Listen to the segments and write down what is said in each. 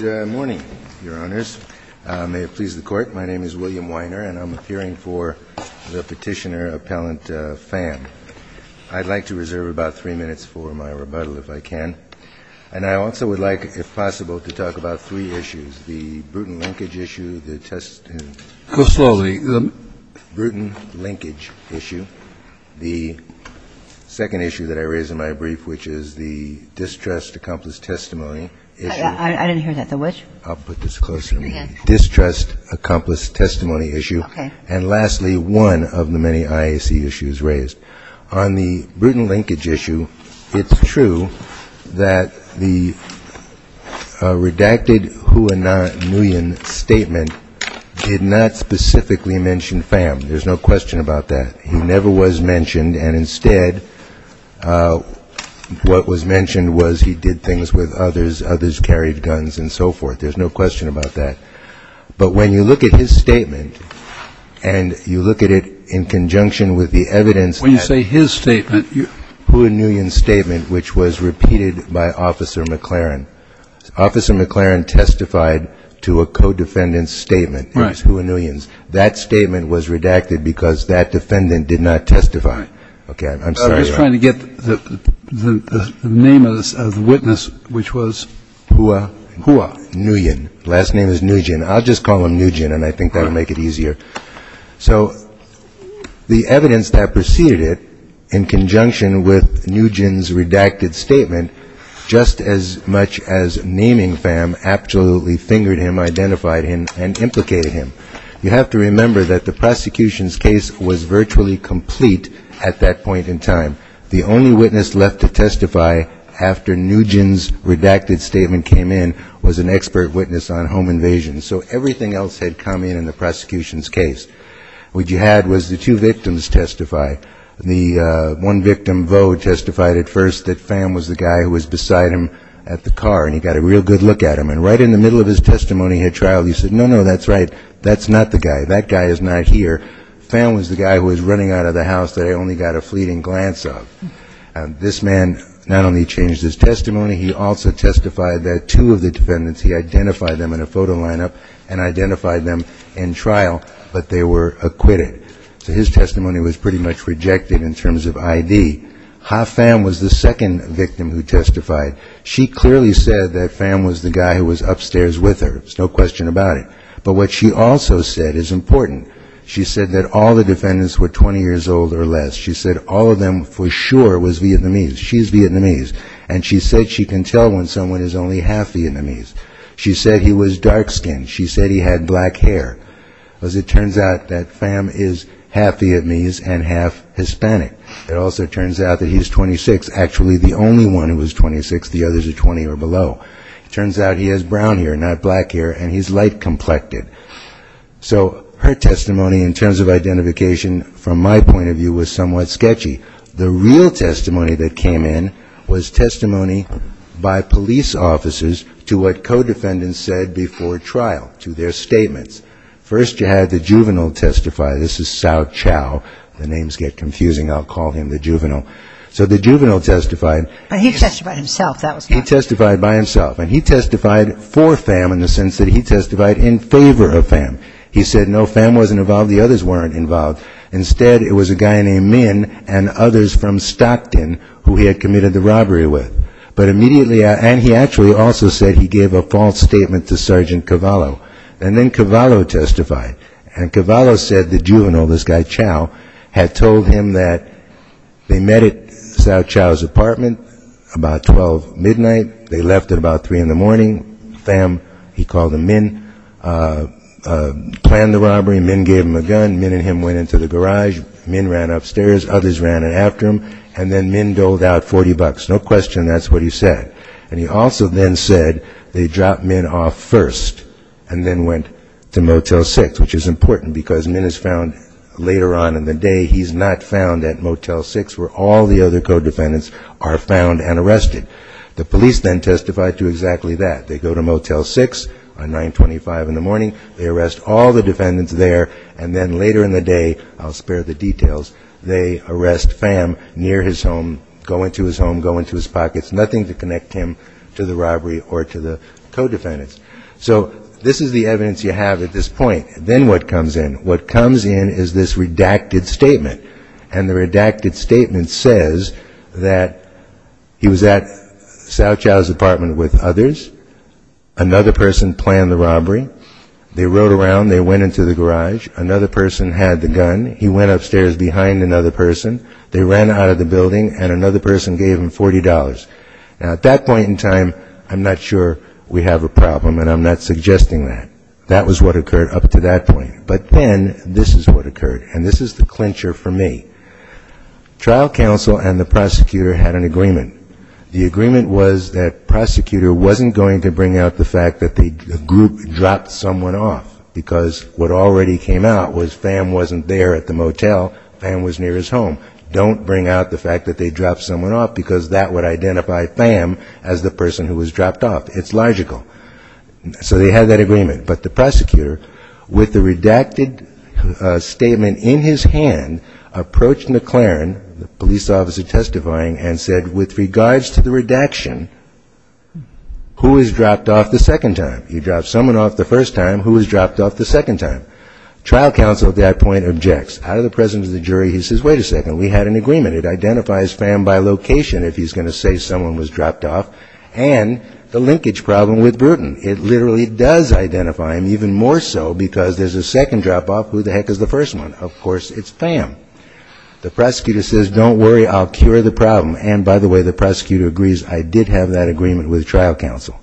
Good morning, Your Honors. May it please the Court, my name is William Weiner and I'm appearing for the Petitioner-Appellant Pham. I'd like to reserve about three minutes for my rebuttal, if I can. And I also would like, if possible, to talk about three issues, the Bruton linkage issue, the testimony issue, the second issue that I raised in my brief, which is the distrust accomplice testimony issue, and lastly, one of the many IAC issues raised. On the Bruton linkage issue, it's true that the redacted Hua Nguyen statement did not specifically mention Pham. There's no question about that. He never was mentioned and instead what was mentioned was he did things with others, others carried guns and so forth. There's no question about that. But when you look at his statement and you When you say his statement, you Hua Nguyen's statement, which was repeated by Officer McLaren. Officer McLaren testified to a co-defendant's statement. Right. It was Hua Nguyen's. That statement was redacted because that defendant did not testify. Right. Okay. I'm sorry. I'm just trying to get the name of the witness, which was Hua Hua Nguyen. Last name is Nguyen. I'll just call him Nguyen and I think that will make it easier. So the evidence that preceded it, in conjunction with Nguyen's redacted statement, just as much as naming Pham absolutely fingered him, identified him and implicated him. You have to remember that the prosecution's case was virtually complete at that point in time. The only witness left to testify after Nguyen's redacted statement came in was an expert witness on home invasions. So everything else had come in in the prosecution's case. What you had was the two victims testify. The one victim, Vo, testified at first that Pham was the guy who was beside him at the car and he got a real good look at him. And right in the middle of his testimony at trial, he said, no, no, that's right. That's not the guy. That guy is not here. Pham was the guy who was running out of the house that I only got a fleeting glance of. This man not only changed his testimony, he also testified that two of the defendants he identified them in a photo lineup and identified them in trial, but they were acquitted. So his testimony was pretty much rejected in terms of I.D. Ha Pham was the second victim who testified. She clearly said that Pham was the guy who was upstairs with her. There's no question about it. But what she also said is important. She said that all the defendants were 20 years old or less. She said all of them for sure was Vietnamese. She's Vietnamese. And she said she can tell when someone is only half Vietnamese. She said he was dark-skinned. She said he had black hair. Because it turns out that Pham is half Vietnamese and half Hispanic. It also turns out that he's 26, actually the only one who was 26. The others are 20 or below. It turns out he has brown hair, not black hair, and he's light-complected. So her testimony in terms of identification from my point of view was somewhat sketchy. The real testimony that came in was testimony by police officers to what co-defendants said before trial, to their statements. First you had the juvenile testify. This is Sau Chau. The names get confusing. I'll call him the juvenile. So the juvenile testified by himself. And he testified for Pham in the sense that he testified in favor of Pham. He said, no, Pham wasn't involved. The others weren't involved. Instead, it was a guy named Minh and others from Stockton who he had committed the robbery with. But immediately, and he actually also said he gave a false statement to Sergeant Cavallo. And then Cavallo testified. And Cavallo said the juvenile, this guy Chau, had told him that they met at Sau Chau's apartment about 12 midnight. They left at about 3 in the morning. Pham, he called him Minh, planned the robbery. Minh gave him a gun. Minh and him went into the garage. Minh ran upstairs. Others ran after him. And then Minh doled out 40 bucks. No question that's what he said. And he also then said they dropped Minh off first and then went to Motel 6, which is important because Minh is found later on in the day. He's not found at Motel 6 where all the other co-defendants are found and arrested. The police then testified to exactly that. They go to Motel 6 on 925 in the morning. They arrest all the defendants there. And then later in the day, I'll spare the details, they arrest Pham near his home, go into his home, go into his pockets. Nothing to connect him to the robbery or to the co-defendants. So this is the evidence you have at this point. Then what comes in? What comes in is this redacted statement. And the redacted statement says that he was at Cao Cao's apartment with others. Another person planned the robbery. They rode around. They went into the garage. Another person had the gun. He went upstairs behind another person. They ran out of the building. And another person gave him $40. Now, at that point in time, I'm not sure we have a problem, and I'm not suggesting that. That was what occurred up to that point. But then this is what occurred. And this is the clincher for me. Trial counsel and the prosecutor had an agreement. The agreement was that prosecutor wasn't going to bring out the fact that the group dropped someone off, because what already came out was Pham wasn't there at the motel. Pham was near his home. Don't bring out the fact that they dropped someone off, because that would identify Pham as the person who was dropped off. It's logical. So they had that agreement. But the prosecutor, with the redacted statement in his hand, approached McLaren, the police officer testifying, and said, with regards to the redaction, who was dropped off the second time? He dropped someone off the first time. Who was dropped off the second time? Trial counsel at that point objects. Out of the presence of the jury, he says, wait a second, we had an agreement. It identifies Pham by location, if he's going to say someone was dropped off, and the linkage problem with Bruton. It literally does identify him, even more so because there's a second drop off, who the heck is the first one? Of course, it's Pham. The prosecutor says, don't worry, I'll cure the problem. And by the way, the prosecutor agrees, I did have that agreement with trial counsel.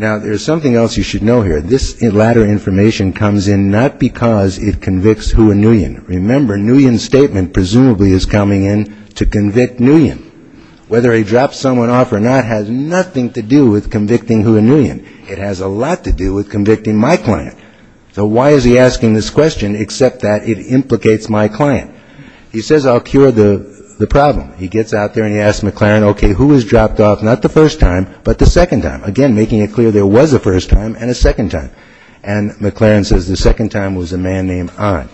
Now there's something else you should know here. This latter information comes in not because it convicts who a Nguyen. Remember, Nguyen's statement presumably is coming in to convict Nguyen. Whether he dropped someone off or not has nothing to do with convicting who a Nguyen. It has a lot to do with convicting my client. So why is he asking this question except that it implicates my client? He says, I'll cure the problem. He gets out there and he asks McLaren, okay, who was dropped off, not the first time, but the second time? Again, making it clear there was a first time and a second time. And McLaren says, the second time was a man named Ahn.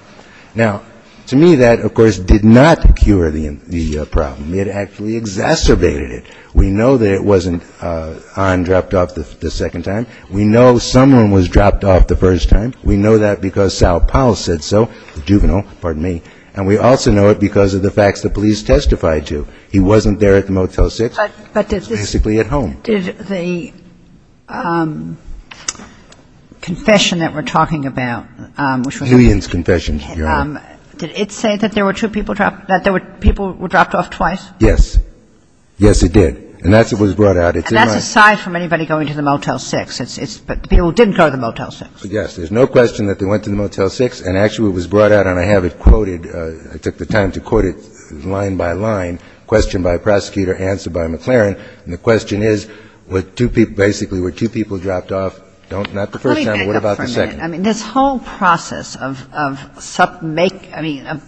Now, to me, that, of course, did not cure the problem. It actually exacerbated it. We know that it wasn't Ahn dropped off the second time. We know someone was dropped off the first time. We know that because Sal Powell said so, the juvenile, pardon me. And we also know it because of the facts the police testified to. He wasn't there at the Motel 6. He was basically at home. Kagan. Did the confession that we're talking about, which was the Nguyen's confession, Your Honor, did it say that there were two people dropped off, that people were dropped off twice? Yes. Yes, it did. And that's what was brought out. And that's aside from anybody going to the Motel 6. It's the people who didn't go to the Motel 6. Yes. There's no question that they went to the Motel 6. And actually, it was brought out, and I have it quoted. I took the time to quote it line by line, question by prosecutor, answer by McLaren. And the question is, were two people, basically, were two people dropped off, not the first time, but what about the second? Let me back up for a minute. I mean, this whole process of make, I mean, of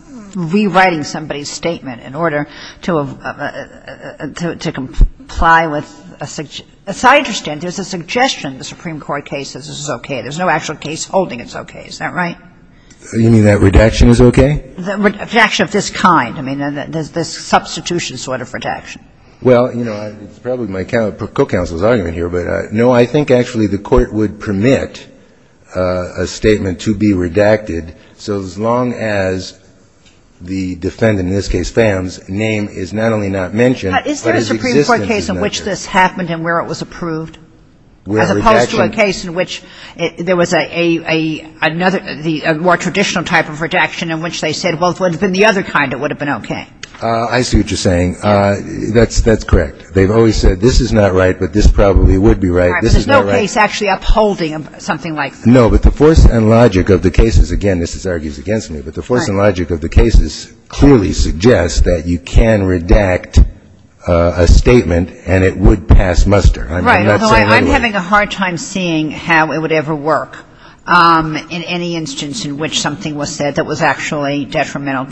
rewriting somebody's statement in order to comply with a suggestion. As I understand, there's a suggestion the Supreme Court case says this is okay. There's no actual case holding it's okay. Is that right? You mean that redaction is okay? Redaction of this kind. I mean, there's this substitution sort of redaction. Well, you know, it's probably my co-counsel's argument here, but, no, I think, actually, the Court would permit a statement to be redacted, so as long as the defendant, in this case Pham's, name is not only not mentioned, but his existence is not mentioned. But is there a Supreme Court case in which this happened and where it was approved? As opposed to a case in which there was a more traditional type of redaction in which they said, well, if it would have been the other kind, it would have been okay. I see what you're saying. That's correct. They've always said this is not right, but this probably would be right. This is not right. Right, but there's no case actually upholding something like that. No, but the force and logic of the cases, again, this argues against me, but the force and logic of the cases clearly suggests that you can redact a statement and it would pass muster. Right, although I'm having a hard time seeing how it would ever work in any instance in which something was said that was actually detrimental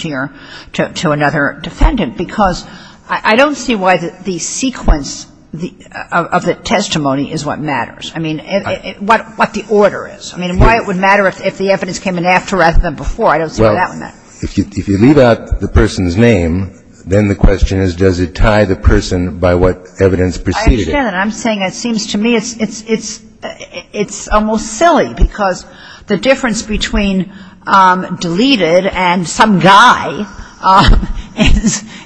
to another defendant because I don't see why the sequence of the testimony is what matters. I mean, what the order is. I mean, why it would matter if the evidence came in after rather than before. I don't see how that would matter. Well, if you leave out the person's name, then the question is does it tie the person by what evidence preceded it. I understand that. I'm saying it seems to me it's almost silly because the difference between deleted and some guy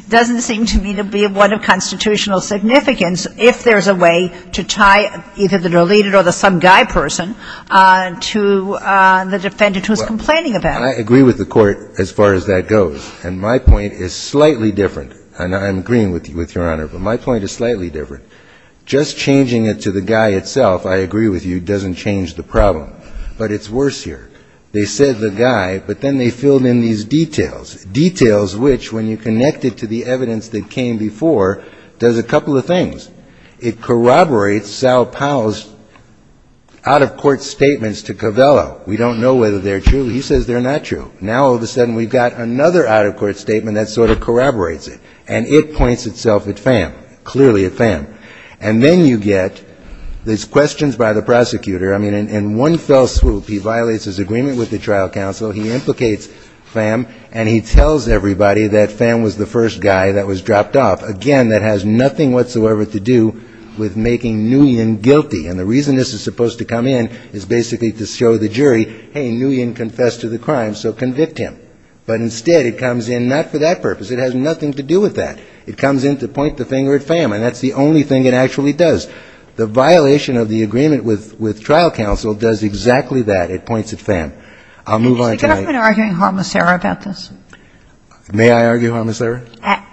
doesn't seem to me to be one of constitutional significance if there's a way to tie either the deleted or the some guy person to the defendant who's complaining about it. Well, I agree with the Court as far as that goes, and my point is slightly different, and I'm agreeing with you, Your Honor, but my point is slightly different. Just changing it to the guy itself, I agree with you, doesn't change the problem. But it's worse here. They said the guy, but then they filled in these details, details which, when you connect it to the evidence that came before, does a couple of things. It corroborates Sal Powell's out-of-court statements to Covello. We don't know whether they're true. He says they're not true. Now, all of a sudden, we've got another out-of-court statement that sort of corroborates it, and it points itself at Pham, clearly at Pham. And then you get these questions by the prosecutor. I mean, in one fell swoop, he violates his agreement with the trial counsel, he implicates Pham, and he tells everybody that Pham was the first guy that was dropped off, again, that has nothing whatsoever to do with making Nguyen guilty. And the reason this is supposed to come in is basically to show the jury, hey, Nguyen confessed to the crime, so convict him. But instead, it comes in not for that purpose. It has nothing to do with that. It comes in to point the finger at Pham, and that's the only thing it actually does. The violation of the agreement with trial counsel does exactly that. It points at Pham. I'll move on to my next point. Kagan. Is the government arguing harmless error about this? May I argue harmless error?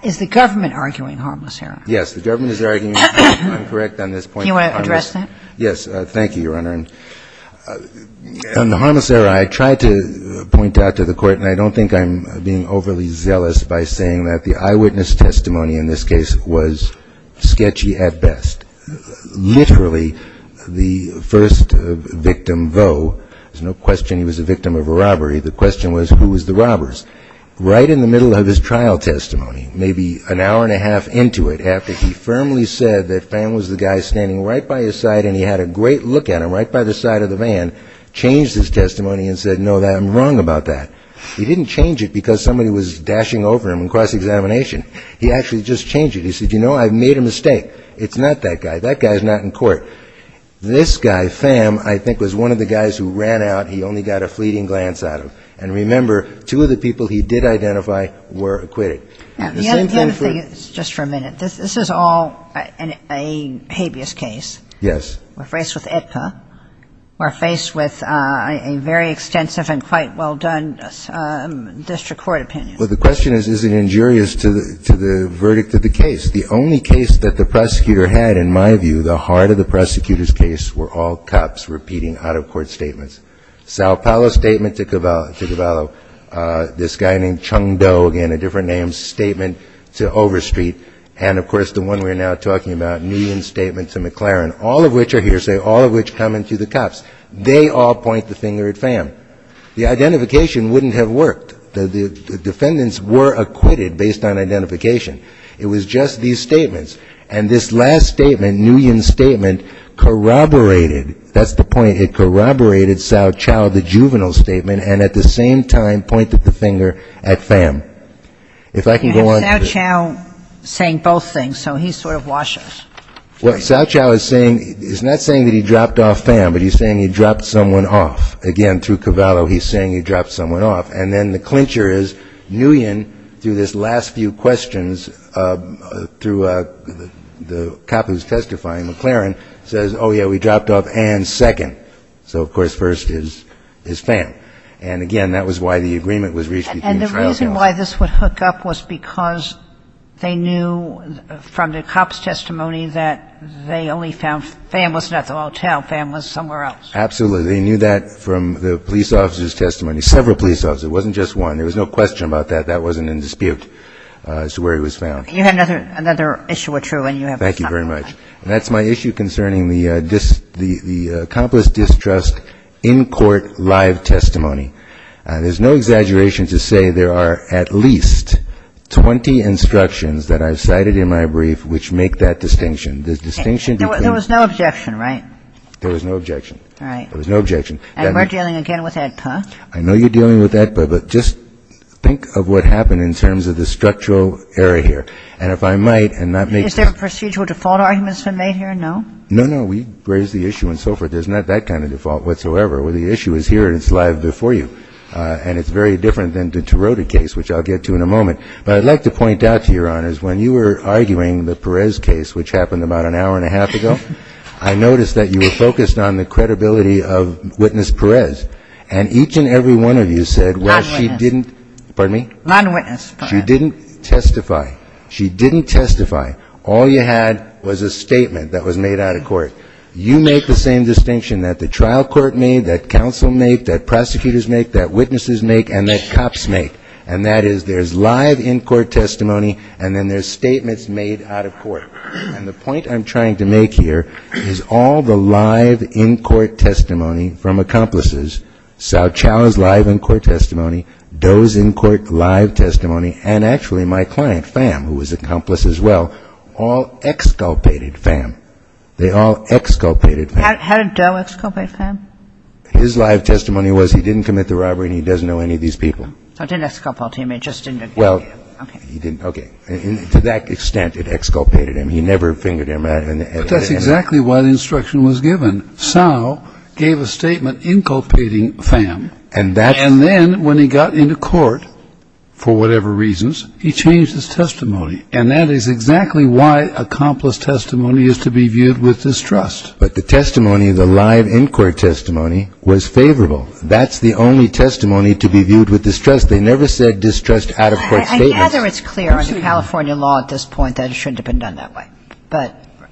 Is the government arguing harmless error? Yes. The government is arguing harmless error. I'm correct on this point. Do you want to address that? Yes. Thank you, Your Honor. On the harmless error, I tried to point out to the court, and I don't think I'm being overly zealous by saying that the eyewitness testimony in this case was sketchy at best. Literally, the first victim, though, there's no question he was a victim of a robbery. The question was, who was the robbers? Right in the middle of his trial testimony, maybe an hour and a half into it, after he firmly said that Pham was the guy standing right by his side and he had a great look at him right by the side of the van, changed his testimony and said, no, I'm wrong about that. He didn't change it because somebody was dashing over him in cross-examination. He actually just changed it. He said, you know, I've made a mistake. It's not that guy. That guy's not in court. This guy, Pham, I think was one of the guys who ran out. He only got a fleeting glance at him. And remember, two of the people he did identify were acquitted. And the other thing, just for a minute, this is all a habeas case. Yes. We're faced with EDCA. We're faced with a very extensive and quite well-done district court opinion. Well, the question is, is it injurious to the verdict of the case? The only case that the prosecutor had, in my view, the heart of the prosecutor's case, were all cops repeating out-of-court statements. Sao Paolo's statement to Cavallo, this guy named Chung Do, again, a different name, statement to Overstreet, and of course the one we're now talking about, Nguyen's statement to McLaren, all of which are hearsay, all of which come into the cops. They all point the finger at Pham. The identification wouldn't have worked. The defendants were acquitted based on identification. It was just these statements. And this last statement, Nguyen's statement, corroborated, that's the point, it corroborated Sao Paolo, the juvenile defendant's statement, and at the same time pointed the finger at Pham. If I can go on to the next slide. You have Sao Paolo saying both things, so he sort of washes. Well, Sao Paolo is saying, he's not saying that he dropped off Pham, but he's saying he dropped someone off. Again, through Cavallo, he's saying he dropped someone off. And then the clincher is Nguyen, through this last few questions, through the cop who's testifying, McLaren, says, oh, yeah, we dropped off Ann in the second. So, of course, first is Pham. And, again, that was why the agreement was reached between the trial counsel. And the reason why this would hook up was because they knew from the cop's testimony that they only found Pham was not at the hotel. Pham was somewhere else. Absolutely. They knew that from the police officer's testimony, several police officers. It wasn't just one. There was no question about that. That wasn't in dispute as to where he was found. You have another issue, which you're going to have to talk about. That's my issue concerning the accomplice distrust in court live testimony. There's no exaggeration to say there are at least 20 instructions that I've cited in my brief which make that distinction. There was no objection, right? There was no objection. All right. There was no objection. And we're dealing again with AEDPA. I know you're dealing with AEDPA, but just think of what happened in terms of the structural error here. And if I might, and not make this here, no? No, no. We raised the issue and so forth. There's not that kind of default whatsoever. The issue is here and it's live before you. And it's very different than the Tarota case, which I'll get to in a moment. But I'd like to point out to Your Honors, when you were arguing the Perez case, which happened about an hour and a half ago, I noticed that you were focused on the credibility of witness Perez. And each and every one of you said, well, she didn't Not witness. Pardon me? Not witness Perez. She didn't testify. She didn't testify. All you had was a statement that was made out of court. You make the same distinction that the trial court made, that counsel make, that prosecutors make, that witnesses make, and that cops make. And that is there's live in-court testimony, and then there's statements made out of court. And the point I'm trying to make here is all the live in-court testimony from accomplices, Saochao's live in-court testimony, Doe's in-court testimony, and actually my client, Pham, who was an accomplice as well, all exculpated Pham. They all exculpated Pham. Had Doe exculpated Pham? His live testimony was he didn't commit the robbery and he doesn't know any of these people. So it didn't exculpate him, it just didn't? Well, he didn't. Okay. To that extent, it exculpated him. He never fingered him. But that's exactly what instruction was given. Sao gave a statement inculpating Pham. And that's when he got into court, for whatever reasons, he changed his testimony. And that is exactly why accomplice testimony is to be viewed with distrust. But the testimony, the live in-court testimony, was favorable. That's the only testimony to be viewed with distrust. They never said distrust out-of-court statements. I gather it's clear under California law at this point that it shouldn't have been done that way.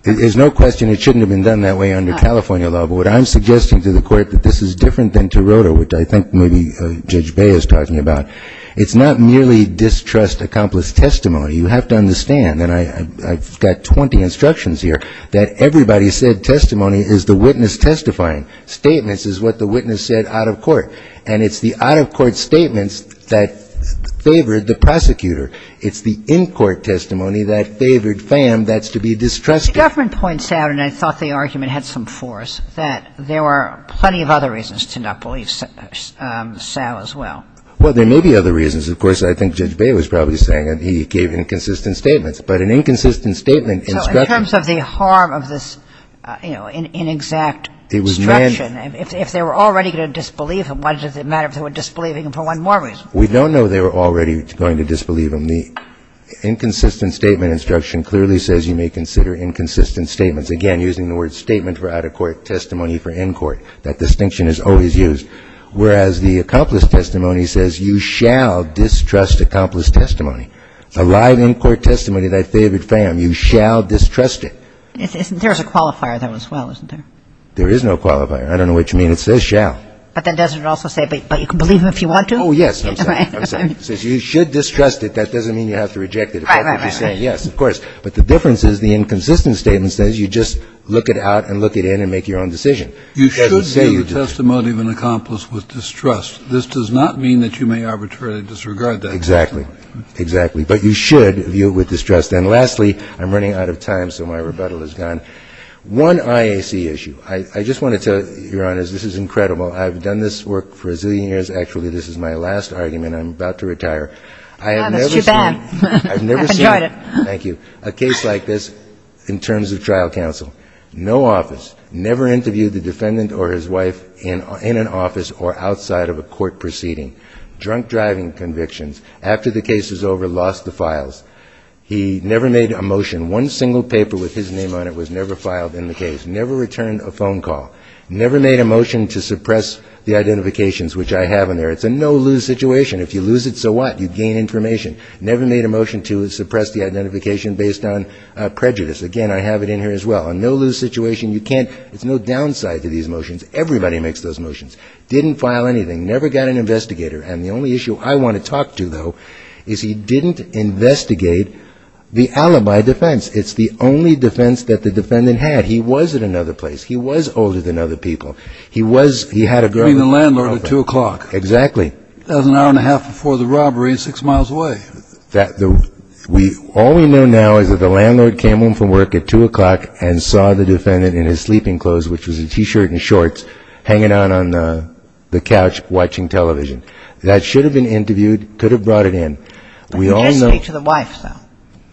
There's no question it shouldn't have been done that way under California law. But what I'm suggesting to the Court, that this is different than Taroto, which I think maybe Judge Bey is talking about, it's not merely distrust accomplice testimony. You have to understand, and I've got 20 instructions here, that everybody said testimony is the witness testifying. Statements is what the witness said out-of-court. And it's the out-of-court statements that favored the prosecutor. It's the in-court testimony that favored Pham that's to be distrusted. The government points out, and I thought the argument had some force, that there were plenty of other reasons to not believe Sal as well. Well, there may be other reasons. Of course, I think Judge Bey was probably saying that he gave inconsistent statements. But an inconsistent statement instruction. So in terms of the harm of this, you know, inexact instruction, if they were already going to disbelieve him, why does it matter if they were disbelieving him for one more reason? We don't know if they were already going to disbelieve him. The inconsistent statement instruction clearly says you may consider inconsistent statements. Again, using the word statement for out-of-court testimony for in-court. That distinction is always used. Whereas the accomplished testimony says you shall distrust accomplished testimony. The live in-court testimony that favored Pham, you shall distrust it. There's a qualifier there as well, isn't there? There is no qualifier. I don't know what you mean. It says shall. But then doesn't it also say, but you can believe him if you want to? Oh, yes. I'm sorry. It says you should distrust it. That doesn't mean you have to reject it. Right, right, right. Yes, of course. But the difference is the inconsistent statement says you just look it out and look it in and make your own decision. You should view the testimony of an accomplice with distrust. This does not mean that you may arbitrarily disregard that. Exactly. Exactly. But you should view it with distrust. And lastly, I'm running out of time, so my rebuttal is gone. One IAC issue. I just wanted to, Your Honors, this is incredible. I've done this work for a zillion years. Actually, this is my last argument. I'm about to retire. I have never seen. That's too bad. I've never seen. Enjoy it. Thank you. A case like this in terms of trial counsel. No office. Never interviewed the defendant or his wife in an office or outside of a court proceeding. Drunk driving convictions. After the case was over, lost the files. He never made a motion. One single paper with his name on it was never filed in the case. Never returned a phone call. Never made a motion to suppress the identifications, which I have in there. It's a no-lose situation. If you lose it, so what? You gain information. Never made a motion to suppress the identification based on prejudice. Again, I have it in here as well. A no-lose situation. You can't. There's no downside to these motions. Everybody makes those motions. Didn't file anything. Never got an investigator. And the only issue I want to talk to, though, is he didn't investigate the alibi defense. It's the only defense that the defendant had. He was at another place. He was older than other people. He was. He had a girlfriend. I mean, the landlord at 2 o'clock. Exactly. That was an hour and a half before the robbery and six miles away. All we know now is that the landlord came home from work at 2 o'clock and saw the defendant in his sleeping clothes, which was a T-shirt and shorts, hanging out on the couch watching television. That should have been interviewed, could have brought it in. But he did speak to the wife, though.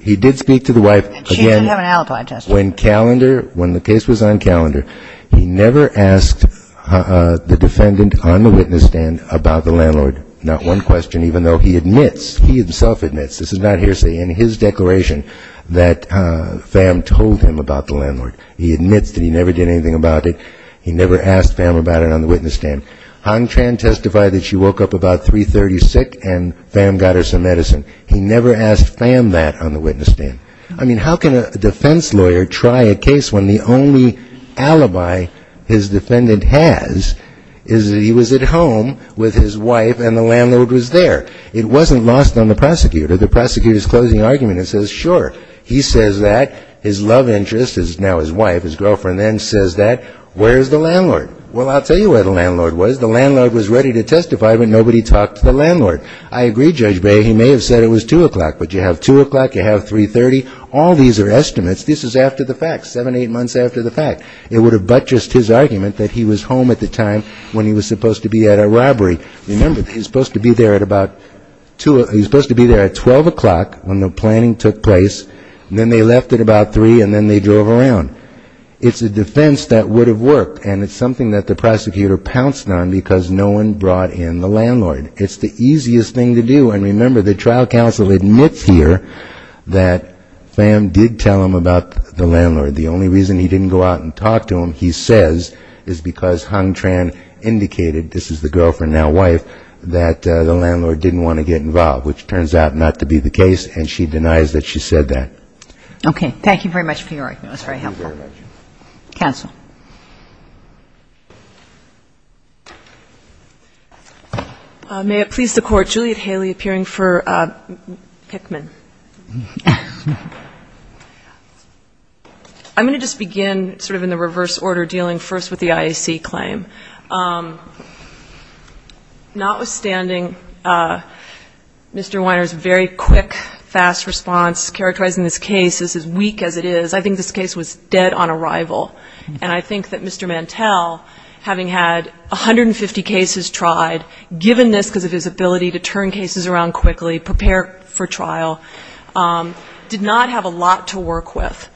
He did speak to the wife. And she didn't have an alibi test. When the case was on calendar, he never asked the defendant on the witness stand about the landlord. Not one question, even though he admits, he himself admits, this is not hearsay, in his declaration that Pham told him about the landlord. He admits that he never did anything about it. He never asked Pham about it on the witness stand. Hon Tran testified that she woke up about 3.30 sick and Pham got her some medicine. He never asked Pham that on the witness stand. I mean, how can a defense lawyer try a case when the only alibi his defendant has is that he was at home with his wife and the landlord was there? It wasn't lost on the prosecutor. The prosecutor's closing argument is, sure, he says that. His love interest is now his wife. His girlfriend then says that. Where's the landlord? Well, I'll tell you where the landlord was. The landlord was ready to testify, but nobody talked to the landlord. I agree, Judge Bay. He may have said it was 2 o'clock, but you have 2 o'clock, you have 3.30. All these are estimates. This is after the fact, seven, eight months after the fact. It would have buttressed his argument that he was home at the time when he was supposed to be at a robbery. Remember, he was supposed to be there at about 2 o'clock. He was supposed to be there at 12 o'clock when the planning took place. Then they left at about 3, and then they drove around. It's a defense that would have worked, and it's something that the prosecutor pounced on because no one brought in the landlord. It's the easiest thing to do. And remember, the trial counsel admits here that Pham did tell him about the landlord. The only reason he didn't go out and talk to him, he says, is because Hung Tran indicated, this is the girlfriend, now wife, that the landlord didn't want to get involved, which turns out not to be the case, and she denies that she said that. Okay. Thank you very much for your argument. It was very helpful. Thank you very much. Counsel. May it please the Court. Juliet Haley appearing for Pickman. I'm going to just begin sort of in the reverse order dealing first with the IAC claim. Notwithstanding Mr. Weiner's very quick, fast response characterizing this case as weak as it is, I think this case was dead on arrival. And I think that Mr. Mantel, having had 150 cases tried, given this because of his ability to turn cases around quickly, prepare for trial, did not have a lot to work with.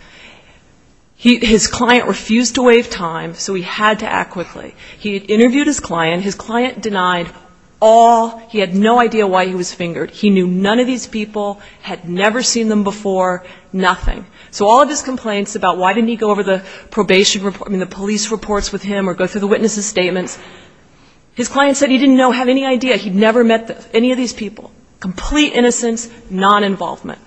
His client refused to waive time, so he had to act quickly. He interviewed his client. His client denied all he had no idea why he was fingered. He knew none of these people, had never seen them before, nothing. So all of his complaints about why didn't he go over the probation report, I mean the police reports with him or go through the witnesses' statements, his client said he didn't know, have any idea, he'd never met any of these people. Complete innocence, non-involvement.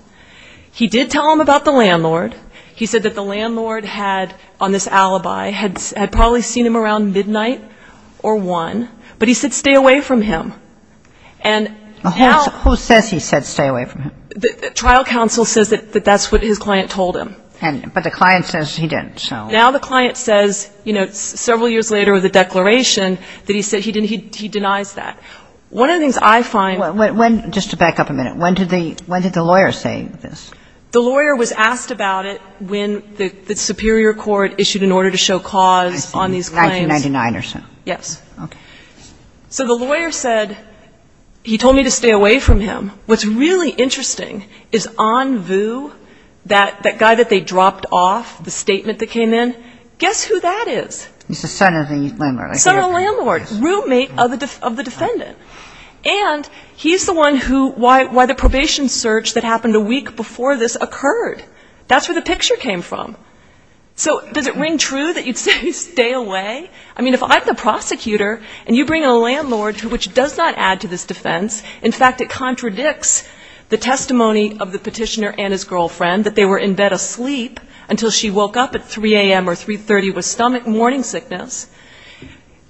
He did tell him about the landlord. He said that the landlord had, on this alibi, had probably seen him around midnight or 1, but he said stay away from him. So he told him. But the client says he didn't, so. Now the client says, you know, several years later with the declaration, that he said he denies that. One of the things I find. Just to back up a minute, when did the lawyer say this? The lawyer was asked about it when the superior court issued an order to show cause on these claims. 1999 or so. Yes. Okay. So the lawyer said, he told me to stay away from him. What's really interesting is on view, that guy that they dropped off, the statement that came in, guess who that is? He's the son of the landlord. Son of the landlord. Roommate of the defendant. And he's the one who, why the probation search that happened a week before this occurred. That's where the picture came from. So does it ring true that you'd say stay away? I mean if I'm the prosecutor and you bring in a landlord, which does not add to this defense. In fact, it contradicts the testimony of the petitioner and his girlfriend, that they were in bed asleep until she woke up at 3 a.m. or 3.30 with stomach morning sickness.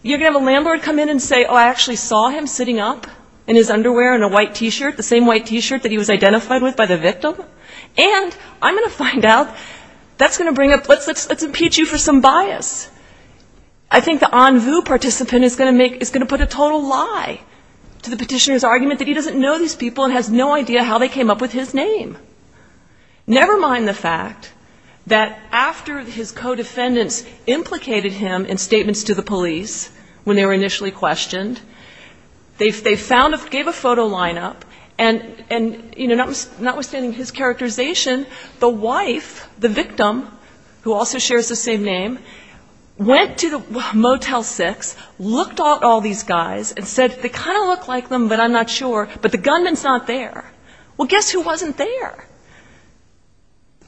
You're going to have a landlord come in and say, oh, I actually saw him sitting up in his underwear in a white T-shirt, the same white T-shirt that he was identified with by the victim. And I'm going to find out, that's going to bring up, let's impeach you for some bias. I think the en vue participant is going to put a total lie to the petitioner's argument that he doesn't know these people and has no idea how they came up with his name. Never mind the fact that after his co-defendants implicated him in statements to the police when they were initially questioned, they gave a photo lineup, and notwithstanding his characterization, the wife, the victim, who also shares the same name, went to the Motel 6, looked at all these guys, and said they kind of look like them, but I'm not sure, but the gunman's not there. Well, guess who wasn't there?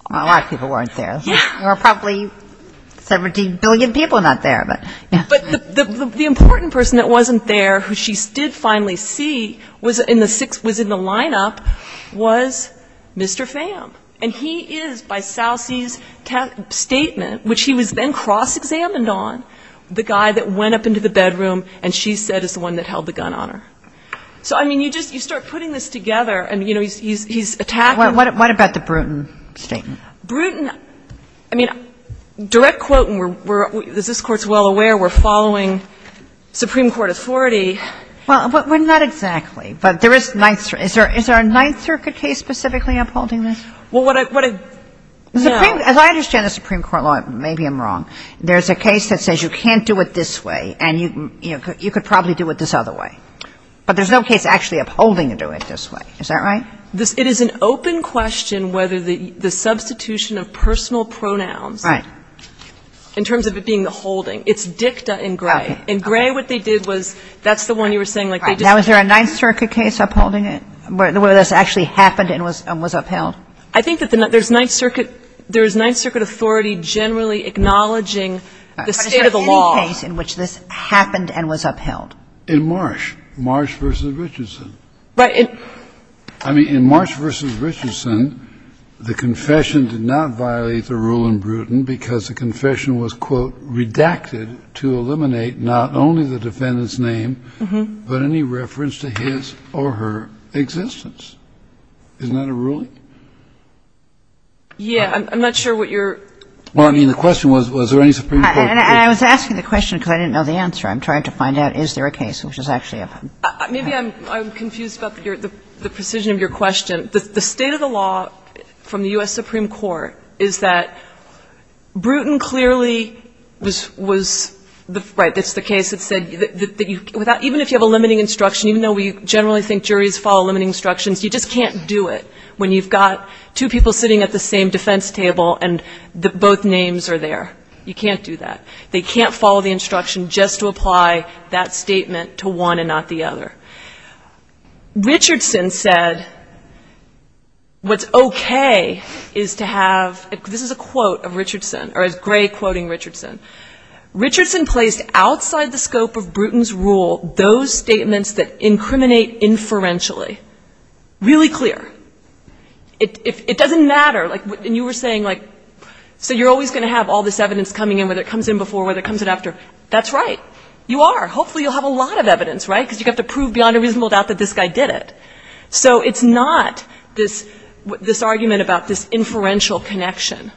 A lot of people weren't there. There were probably 17 billion people not there. But the important person that wasn't there, who she did finally see, was in the lineup, was Mr. Pham. And he is, by Salse's statement, which he was then cross-examined on, the guy that went up into the bedroom, and she said is the one that held the gun on her. So, I mean, you just, you start putting this together, and, you know, he's attacking What about the Bruton statement? Bruton, I mean, direct quote, and we're, as this Court's well aware, we're following Supreme Court authority. Well, not exactly, but there is Ninth Circuit. Is there a Ninth Circuit case specifically upholding this? Well, what I, what I, no. The Supreme, as I understand the Supreme Court law, maybe I'm wrong, there's a case that says you can't do it this way, and you, you know, you could probably do it this other way. But there's no case actually upholding to do it this way. Is that right? This, it is an open question whether the substitution of personal pronouns. Right. In terms of it being the holding. It's dicta in gray. Okay. In gray, what they did was, that's the one you were saying, like, they just. Now, is there a Ninth Circuit case upholding it, where this actually happened and was, and was upheld? I think that the Ninth, there's Ninth Circuit, there's Ninth Circuit authority generally acknowledging the state of the law. Is there any case in which this happened and was upheld? In Marsh. Marsh v. Richardson. But in. I mean, in Marsh v. Richardson, the confession did not violate the rule in Bruton because the confession was, quote, redacted to eliminate not only the defendant's name, but any reference to his or her existence. Isn't that a ruling? Yeah. I'm not sure what your. Well, I mean, the question was, was there any Supreme Court. And I was asking the question because I didn't know the answer. I'm trying to find out, is there a case which is actually upheld? Maybe I'm confused about the precision of your question. The state of the law from the U.S. Supreme Court is that Bruton clearly was, right, it's the case that said that even if you have a limiting instruction, even though we generally think juries follow limiting instructions, you just can't do it when you've got two people sitting at the same defense table and both names are there. You can't do that. They can't follow the instruction just to apply that statement to one and not the other. Richardson said what's okay is to have, this is a quote of Richardson, or it's Gray quoting Richardson. Richardson placed outside the scope of Bruton's rule those statements that incriminate inferentially really clear. It doesn't matter. And you were saying, like, so you're always going to have all this evidence coming in, whether it comes in before, whether it comes in after. That's right. You are. Hopefully you'll have a lot of evidence, right, because you have to prove beyond a reasonable doubt that this guy did it. So it's not this argument about this inferential connection.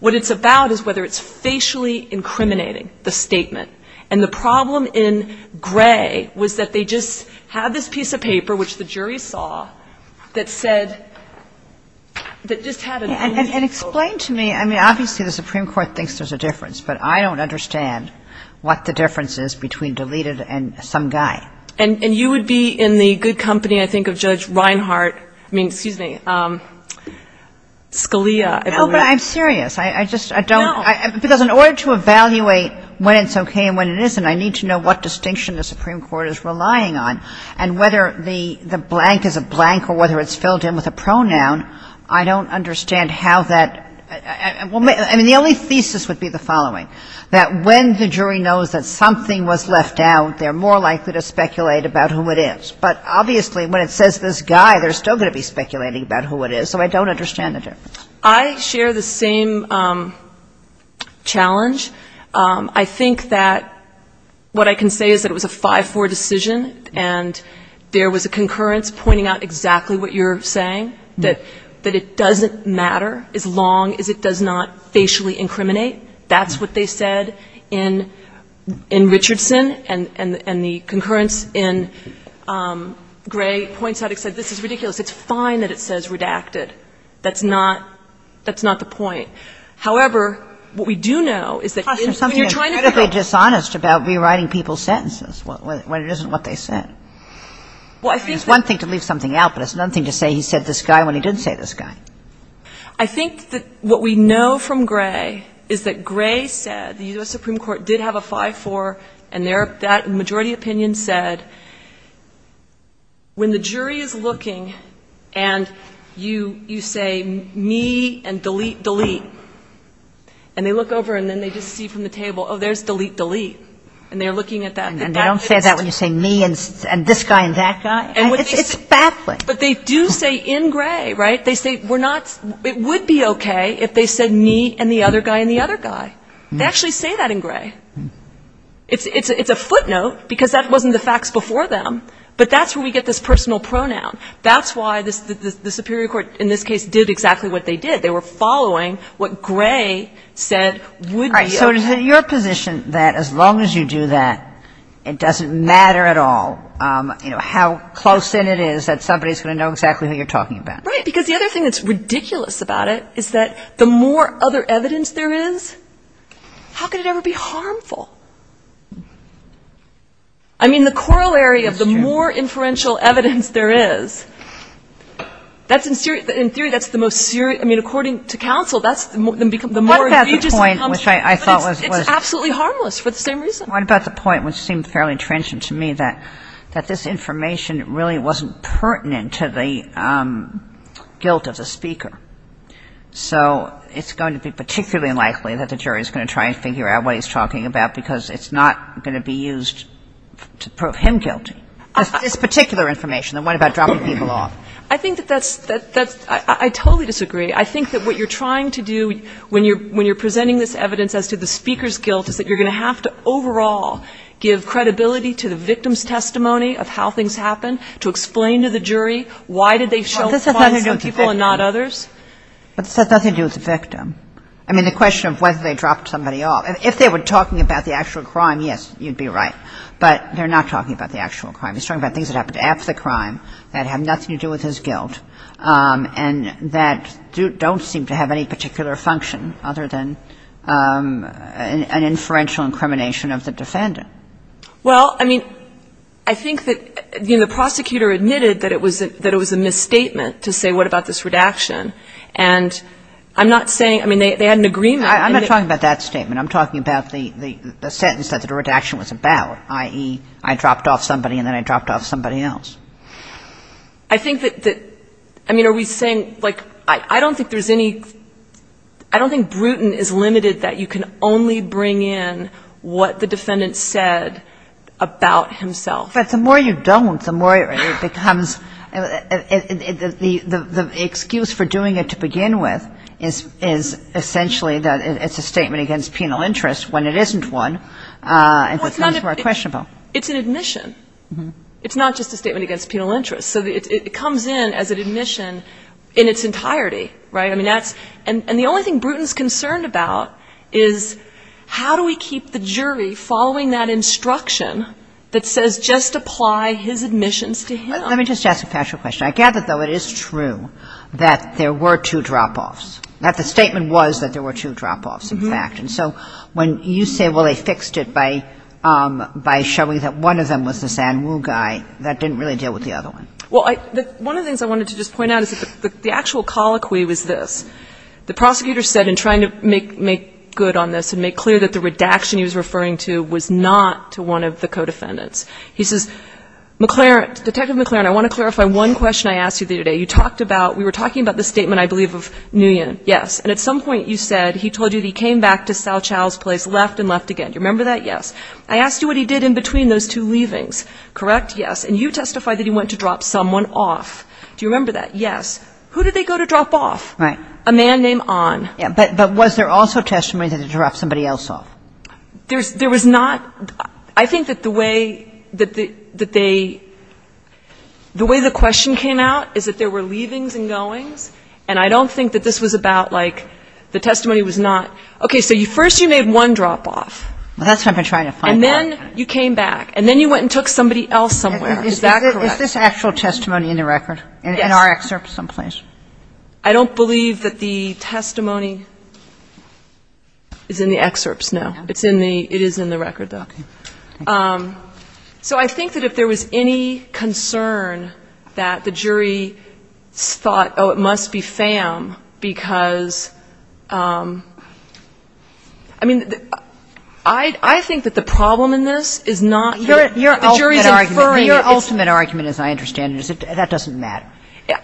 What it's about is whether it's facially incriminating, the statement. And the problem in Gray was that they just had this piece of paper, which the jury saw, that said, that just had a. And explain to me, I mean, obviously the Supreme Court thinks there's a difference, but I don't understand what the difference is between deleted and some guy. And you would be in the good company, I think, of Judge Reinhart, I mean, excuse me, Scalia. No, but I'm serious. I just, I don't. No. Because in order to evaluate when it's okay and when it isn't, I need to know what distinction the Supreme Court is relying on. And whether the blank is a blank or whether it's filled in with a pronoun, I don't understand how that. I mean, the only thesis would be the following, that when the jury knows that something was left out, they're more likely to speculate about who it is. But obviously when it says this guy, they're still going to be speculating about who it is. So I don't understand the difference. I share the same challenge. I think that what I can say is that it was a 5-4 decision, and there was a concurrence pointing out exactly what you're saying, that it doesn't matter as long as it does not facially incriminate. That's what they said in Richardson, and the concurrence in Gray points out, it said, this is ridiculous. It's fine that it says redacted. That's not the point. However, what we do know is that when you're trying to go to the Supreme Court It's something that's critically dishonest about rewriting people's sentences when it isn't what they said. I mean, it's one thing to leave something out, but it's another thing to say he said this guy when he didn't say this guy. I think that what we know from Gray is that Gray said the U.S. Supreme Court did have a 5-4, and their majority opinion said when the jury is looking and you don't know you say me and delete, delete. And they look over and then they just see from the table, oh, there's delete, delete. And they're looking at that. And they don't say that when you say me and this guy and that guy. It's baffling. But they do say in Gray, right? They say it would be okay if they said me and the other guy and the other guy. They actually say that in Gray. It's a footnote because that wasn't the facts before them, but that's where we get this personal pronoun. That's why the superior court in this case did exactly what they did. They were following what Gray said would be okay. So is it your position that as long as you do that, it doesn't matter at all, you know, how close in it is that somebody is going to know exactly who you're talking about? Right. Because the other thing that's ridiculous about it is that the more other evidence there is, how could it ever be harmful? I mean, the corollary of the more inferential evidence there is, that's in theory, that's the most serious. I mean, according to counsel, that's the more egregious. But it's absolutely harmless for the same reason. What about the point, which seemed fairly transient to me, that this information really wasn't pertinent to the guilt of the speaker? So it's going to be particularly unlikely that the jury is going to try and prove him guilty. It's not going to be used to prove him guilty. It's particular information. And what about dropping people off? I think that that's — I totally disagree. I think that what you're trying to do when you're presenting this evidence as to the speaker's guilt is that you're going to have to overall give credibility to the victim's testimony of how things happened, to explain to the jury why did they show up in front of some people and not others. But this has nothing to do with the victim. I mean, the question of whether they dropped somebody off. If they were talking about the actual crime, yes, you'd be right. But they're not talking about the actual crime. He's talking about things that happened after the crime that have nothing to do with his guilt and that don't seem to have any particular function other than an inferential incrimination of the defendant. Well, I mean, I think that, you know, the prosecutor admitted that it was a misstatement to say what about this redaction. And I'm not saying — I mean, they had an agreement. I'm not talking about that statement. I'm talking about the sentence that the redaction was about, i.e., I dropped off somebody and then I dropped off somebody else. I think that — I mean, are we saying — like, I don't think there's any — I don't think Bruton is limited that you can only bring in what the defendant said about himself. But the more you don't, the more it becomes — the excuse for doing it to begin with is essentially that it's a statement against penal interest when it isn't one. And that's more questionable. Well, it's not a — it's an admission. It's not just a statement against penal interest. So it comes in as an admission in its entirety, right? I mean, that's — and the only thing Bruton is concerned about is how do we keep the jury following that instruction that says just apply his admissions to him? Let me just ask a factual question. I gather, though, it is true that there were two drop-offs, that the statement was that there were two drop-offs, in fact. And so when you say, well, they fixed it by showing that one of them was this Anwu guy, that didn't really deal with the other one. Well, one of the things I wanted to just point out is that the actual colloquy was this. The prosecutor said in trying to make good on this and make clear that the redaction he was referring to was not to one of the co-defendants. He says, McLaren — Detective McLaren, I want to clarify one question I asked you the other day. You talked about — we were talking about the statement, I believe, of Nguyen. Yes. And at some point you said he told you that he came back to Cao Cao's place, left and left again. Do you remember that? Yes. I asked you what he did in between those two leavings. Correct? Yes. And you testified that he went to drop someone off. Do you remember that? Yes. Who did they go to drop off? Right. A man named An. Yeah. But was there also testimony that he dropped somebody else off? There was not — I think that the way that they — the way the question came out is that there were leavings and goings, and I don't think that this was about, like, the testimony was not — okay, so first you made one drop off. Well, that's what I've been trying to find out. And then you came back. And then you went and took somebody else somewhere. Is that correct? Is this actual testimony in the record? Yes. In our excerpts someplace? I don't believe that the testimony is in the excerpts, no. It's in the — it is in the record, though. Okay. So I think that if there was any concern that the jury thought, oh, it must be FAM because — I mean, I think that the problem in this is not the jury's inferring that it's — Your ultimate argument, as I understand it, is that that doesn't matter.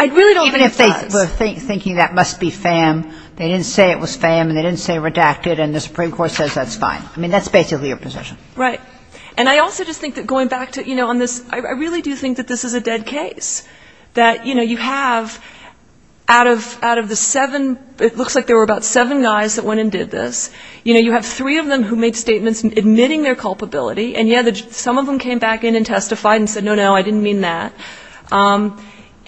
I really don't think it does. Even if they were thinking that must be FAM, they didn't say it was FAM, and they didn't say redacted, and the Supreme Court says that's fine. I mean, that's basically your position. Right. And I also just think that going back to — you know, on this, I really do think that this is a dead case, that, you know, you have out of the seven — it looks like there were about seven guys that went and did this. You know, you have three of them who made statements admitting their culpability, and yet some of them came back in and testified and said, no, no, I didn't mean that.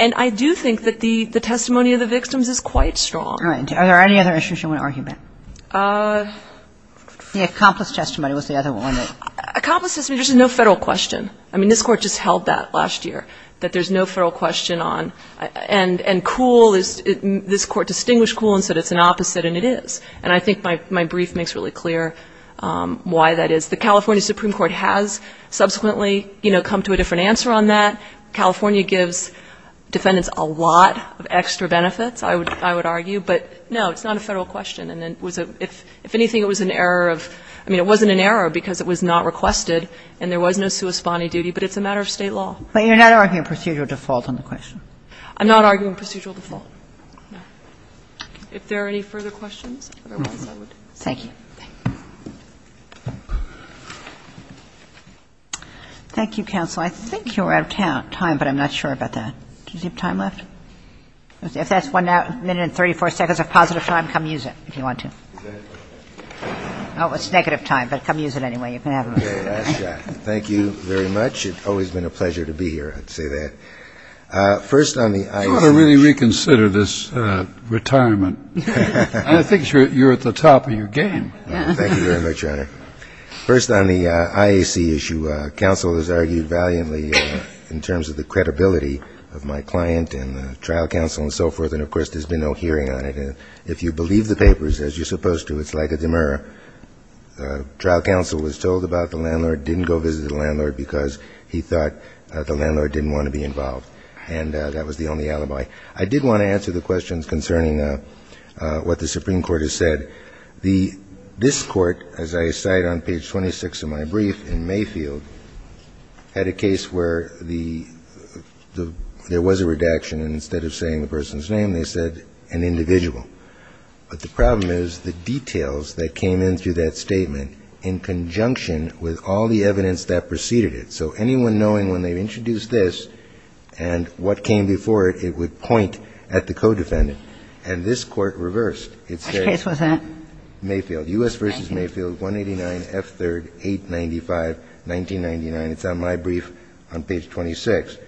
And I do think that the testimony of the victims is quite strong. All right. Are there any other issues you want to argue about? The accomplice testimony was the other one. Accomplice testimony, there's no Federal question. I mean, this Court just held that last year, that there's no Federal question on — and cool is — this Court distinguished cool and said it's an opposite, and it is. And I think my brief makes really clear why that is. The California Supreme Court has subsequently, you know, come to a different answer on that. California gives defendants a lot of extra benefits, I would argue. But, no, it's not a Federal question, and it was a — if anything, it was an error of — I mean, it wasn't an error because it was not requested and there was no sui spani duty, but it's a matter of State law. But you're not arguing procedural default on the question? I'm not arguing procedural default, no. If there are any further questions, otherwise I would stop. Thank you. Thank you, counsel. I think you're out of time, but I'm not sure about that. Do you have time left? If that's one minute and 34 seconds of positive time, come use it if you want to. Oh, it's negative time, but come use it anyway. You can have it. Thank you very much. It's always been a pleasure to be here, I'd say that. First on the IAC — You ought to really reconsider this retirement. I think you're at the top of your game. Thank you very much, Your Honor. First on the IAC issue, counsel has argued valiantly in terms of the credibility of my client and the trial counsel and so forth. And, of course, there's been no hearing on it. And if you believe the papers, as you're supposed to, it's like a demurrer. Trial counsel was told about the landlord, didn't go visit the landlord because he thought the landlord didn't want to be involved. And that was the only alibi. I did want to answer the questions concerning what the Supreme Court has said. The — this Court, as I cite on page 26 of my brief in Mayfield, had a case where there was a redaction, and instead of saying the person's name, they said an individual. But the problem is the details that came in through that statement in conjunction with all the evidence that preceded it. So anyone knowing when they introduced this and what came before it, it would point at the co-defendant. And this Court reversed. Which case was that? Mayfield. U.S. v. Mayfield, 189 F. 3rd, 895, 1999. It's on my brief on page 26.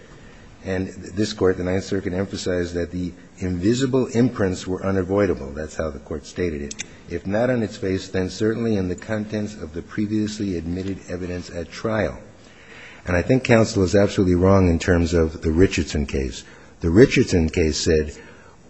And this Court, the Ninth Circuit, emphasized that the invisible imprints were unavoidable. That's how the Court stated it. If not on its face, then certainly in the contents of the previously admitted evidence at trial. And I think counsel is absolutely wrong in terms of the Richardson case. The Richardson case said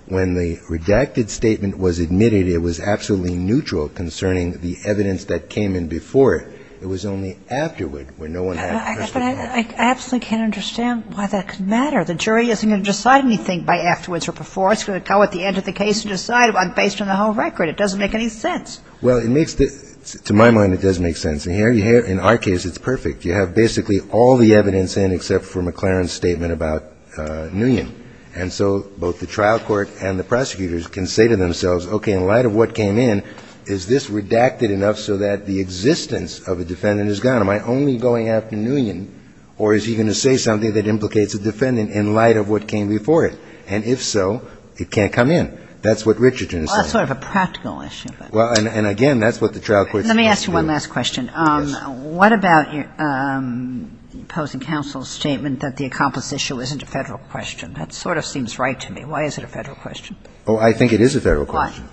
when the redacted statement was admitted, it was absolutely neutral concerning the evidence that came in before it. It was only afterward where no one had a crystal ball. But I absolutely can't understand why that could matter. The jury isn't going to decide anything by afterwards or before. It's going to go at the end of the case and decide based on the whole record. It doesn't make any sense. Well, to my mind, it does make sense. And in our case, it's perfect. You have basically all the evidence in except for McLaren's statement about Nguyen. And so both the trial court and the prosecutors can say to themselves, okay, in light of what came in, is this redacted enough so that the existence of a defendant is gone? Am I only going after Nguyen, or is he going to say something that implicates a defendant in light of what came before it? And if so, it can't come in. That's what Richardson is saying. Well, that's sort of a practical issue. Well, and again, that's what the trial court's supposed to do. Let me ask you one last question. Yes. What about your opposing counsel's statement that the accomplice issue isn't a Federal question? That sort of seems right to me. Why is it a Federal question? Oh, I think it is a Federal question. Why?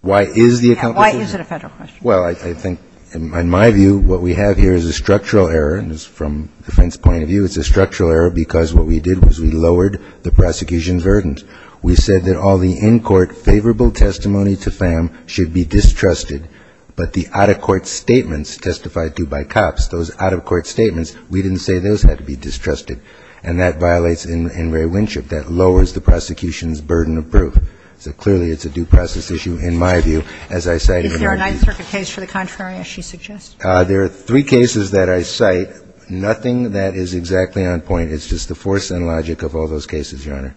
Why is the accomplice issue? Why is it a Federal question? Well, I think, in my view, what we have here is a structural error. And from the defense point of view, it's a structural error because what we did was we lowered the prosecution's burdens. We said that all the in-court favorable testimony to Pham should be distrusted. But the out-of-court statements testified to by cops, those out-of-court statements, we didn't say those had to be distrusted. And that violates Ingray-Winship. That lowers the prosecution's burden of proof. So clearly, it's a due process issue, in my view, as I say. Is there a Ninth Circuit case for the contrary, as she suggests? There are three cases that I cite. Nothing that is exactly on point. It's just the force and logic of all those cases, Your Honor.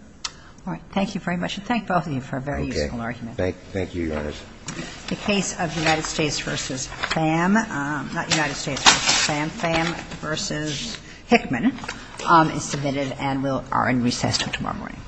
All right. Thank you very much. And thank both of you for a very useful argument. Okay. Thank you, Your Honors. The case of United States v. Pham, not United States v. Pham, Pham v. Hickman is submitted and will be in recess until tomorrow morning. Thank you.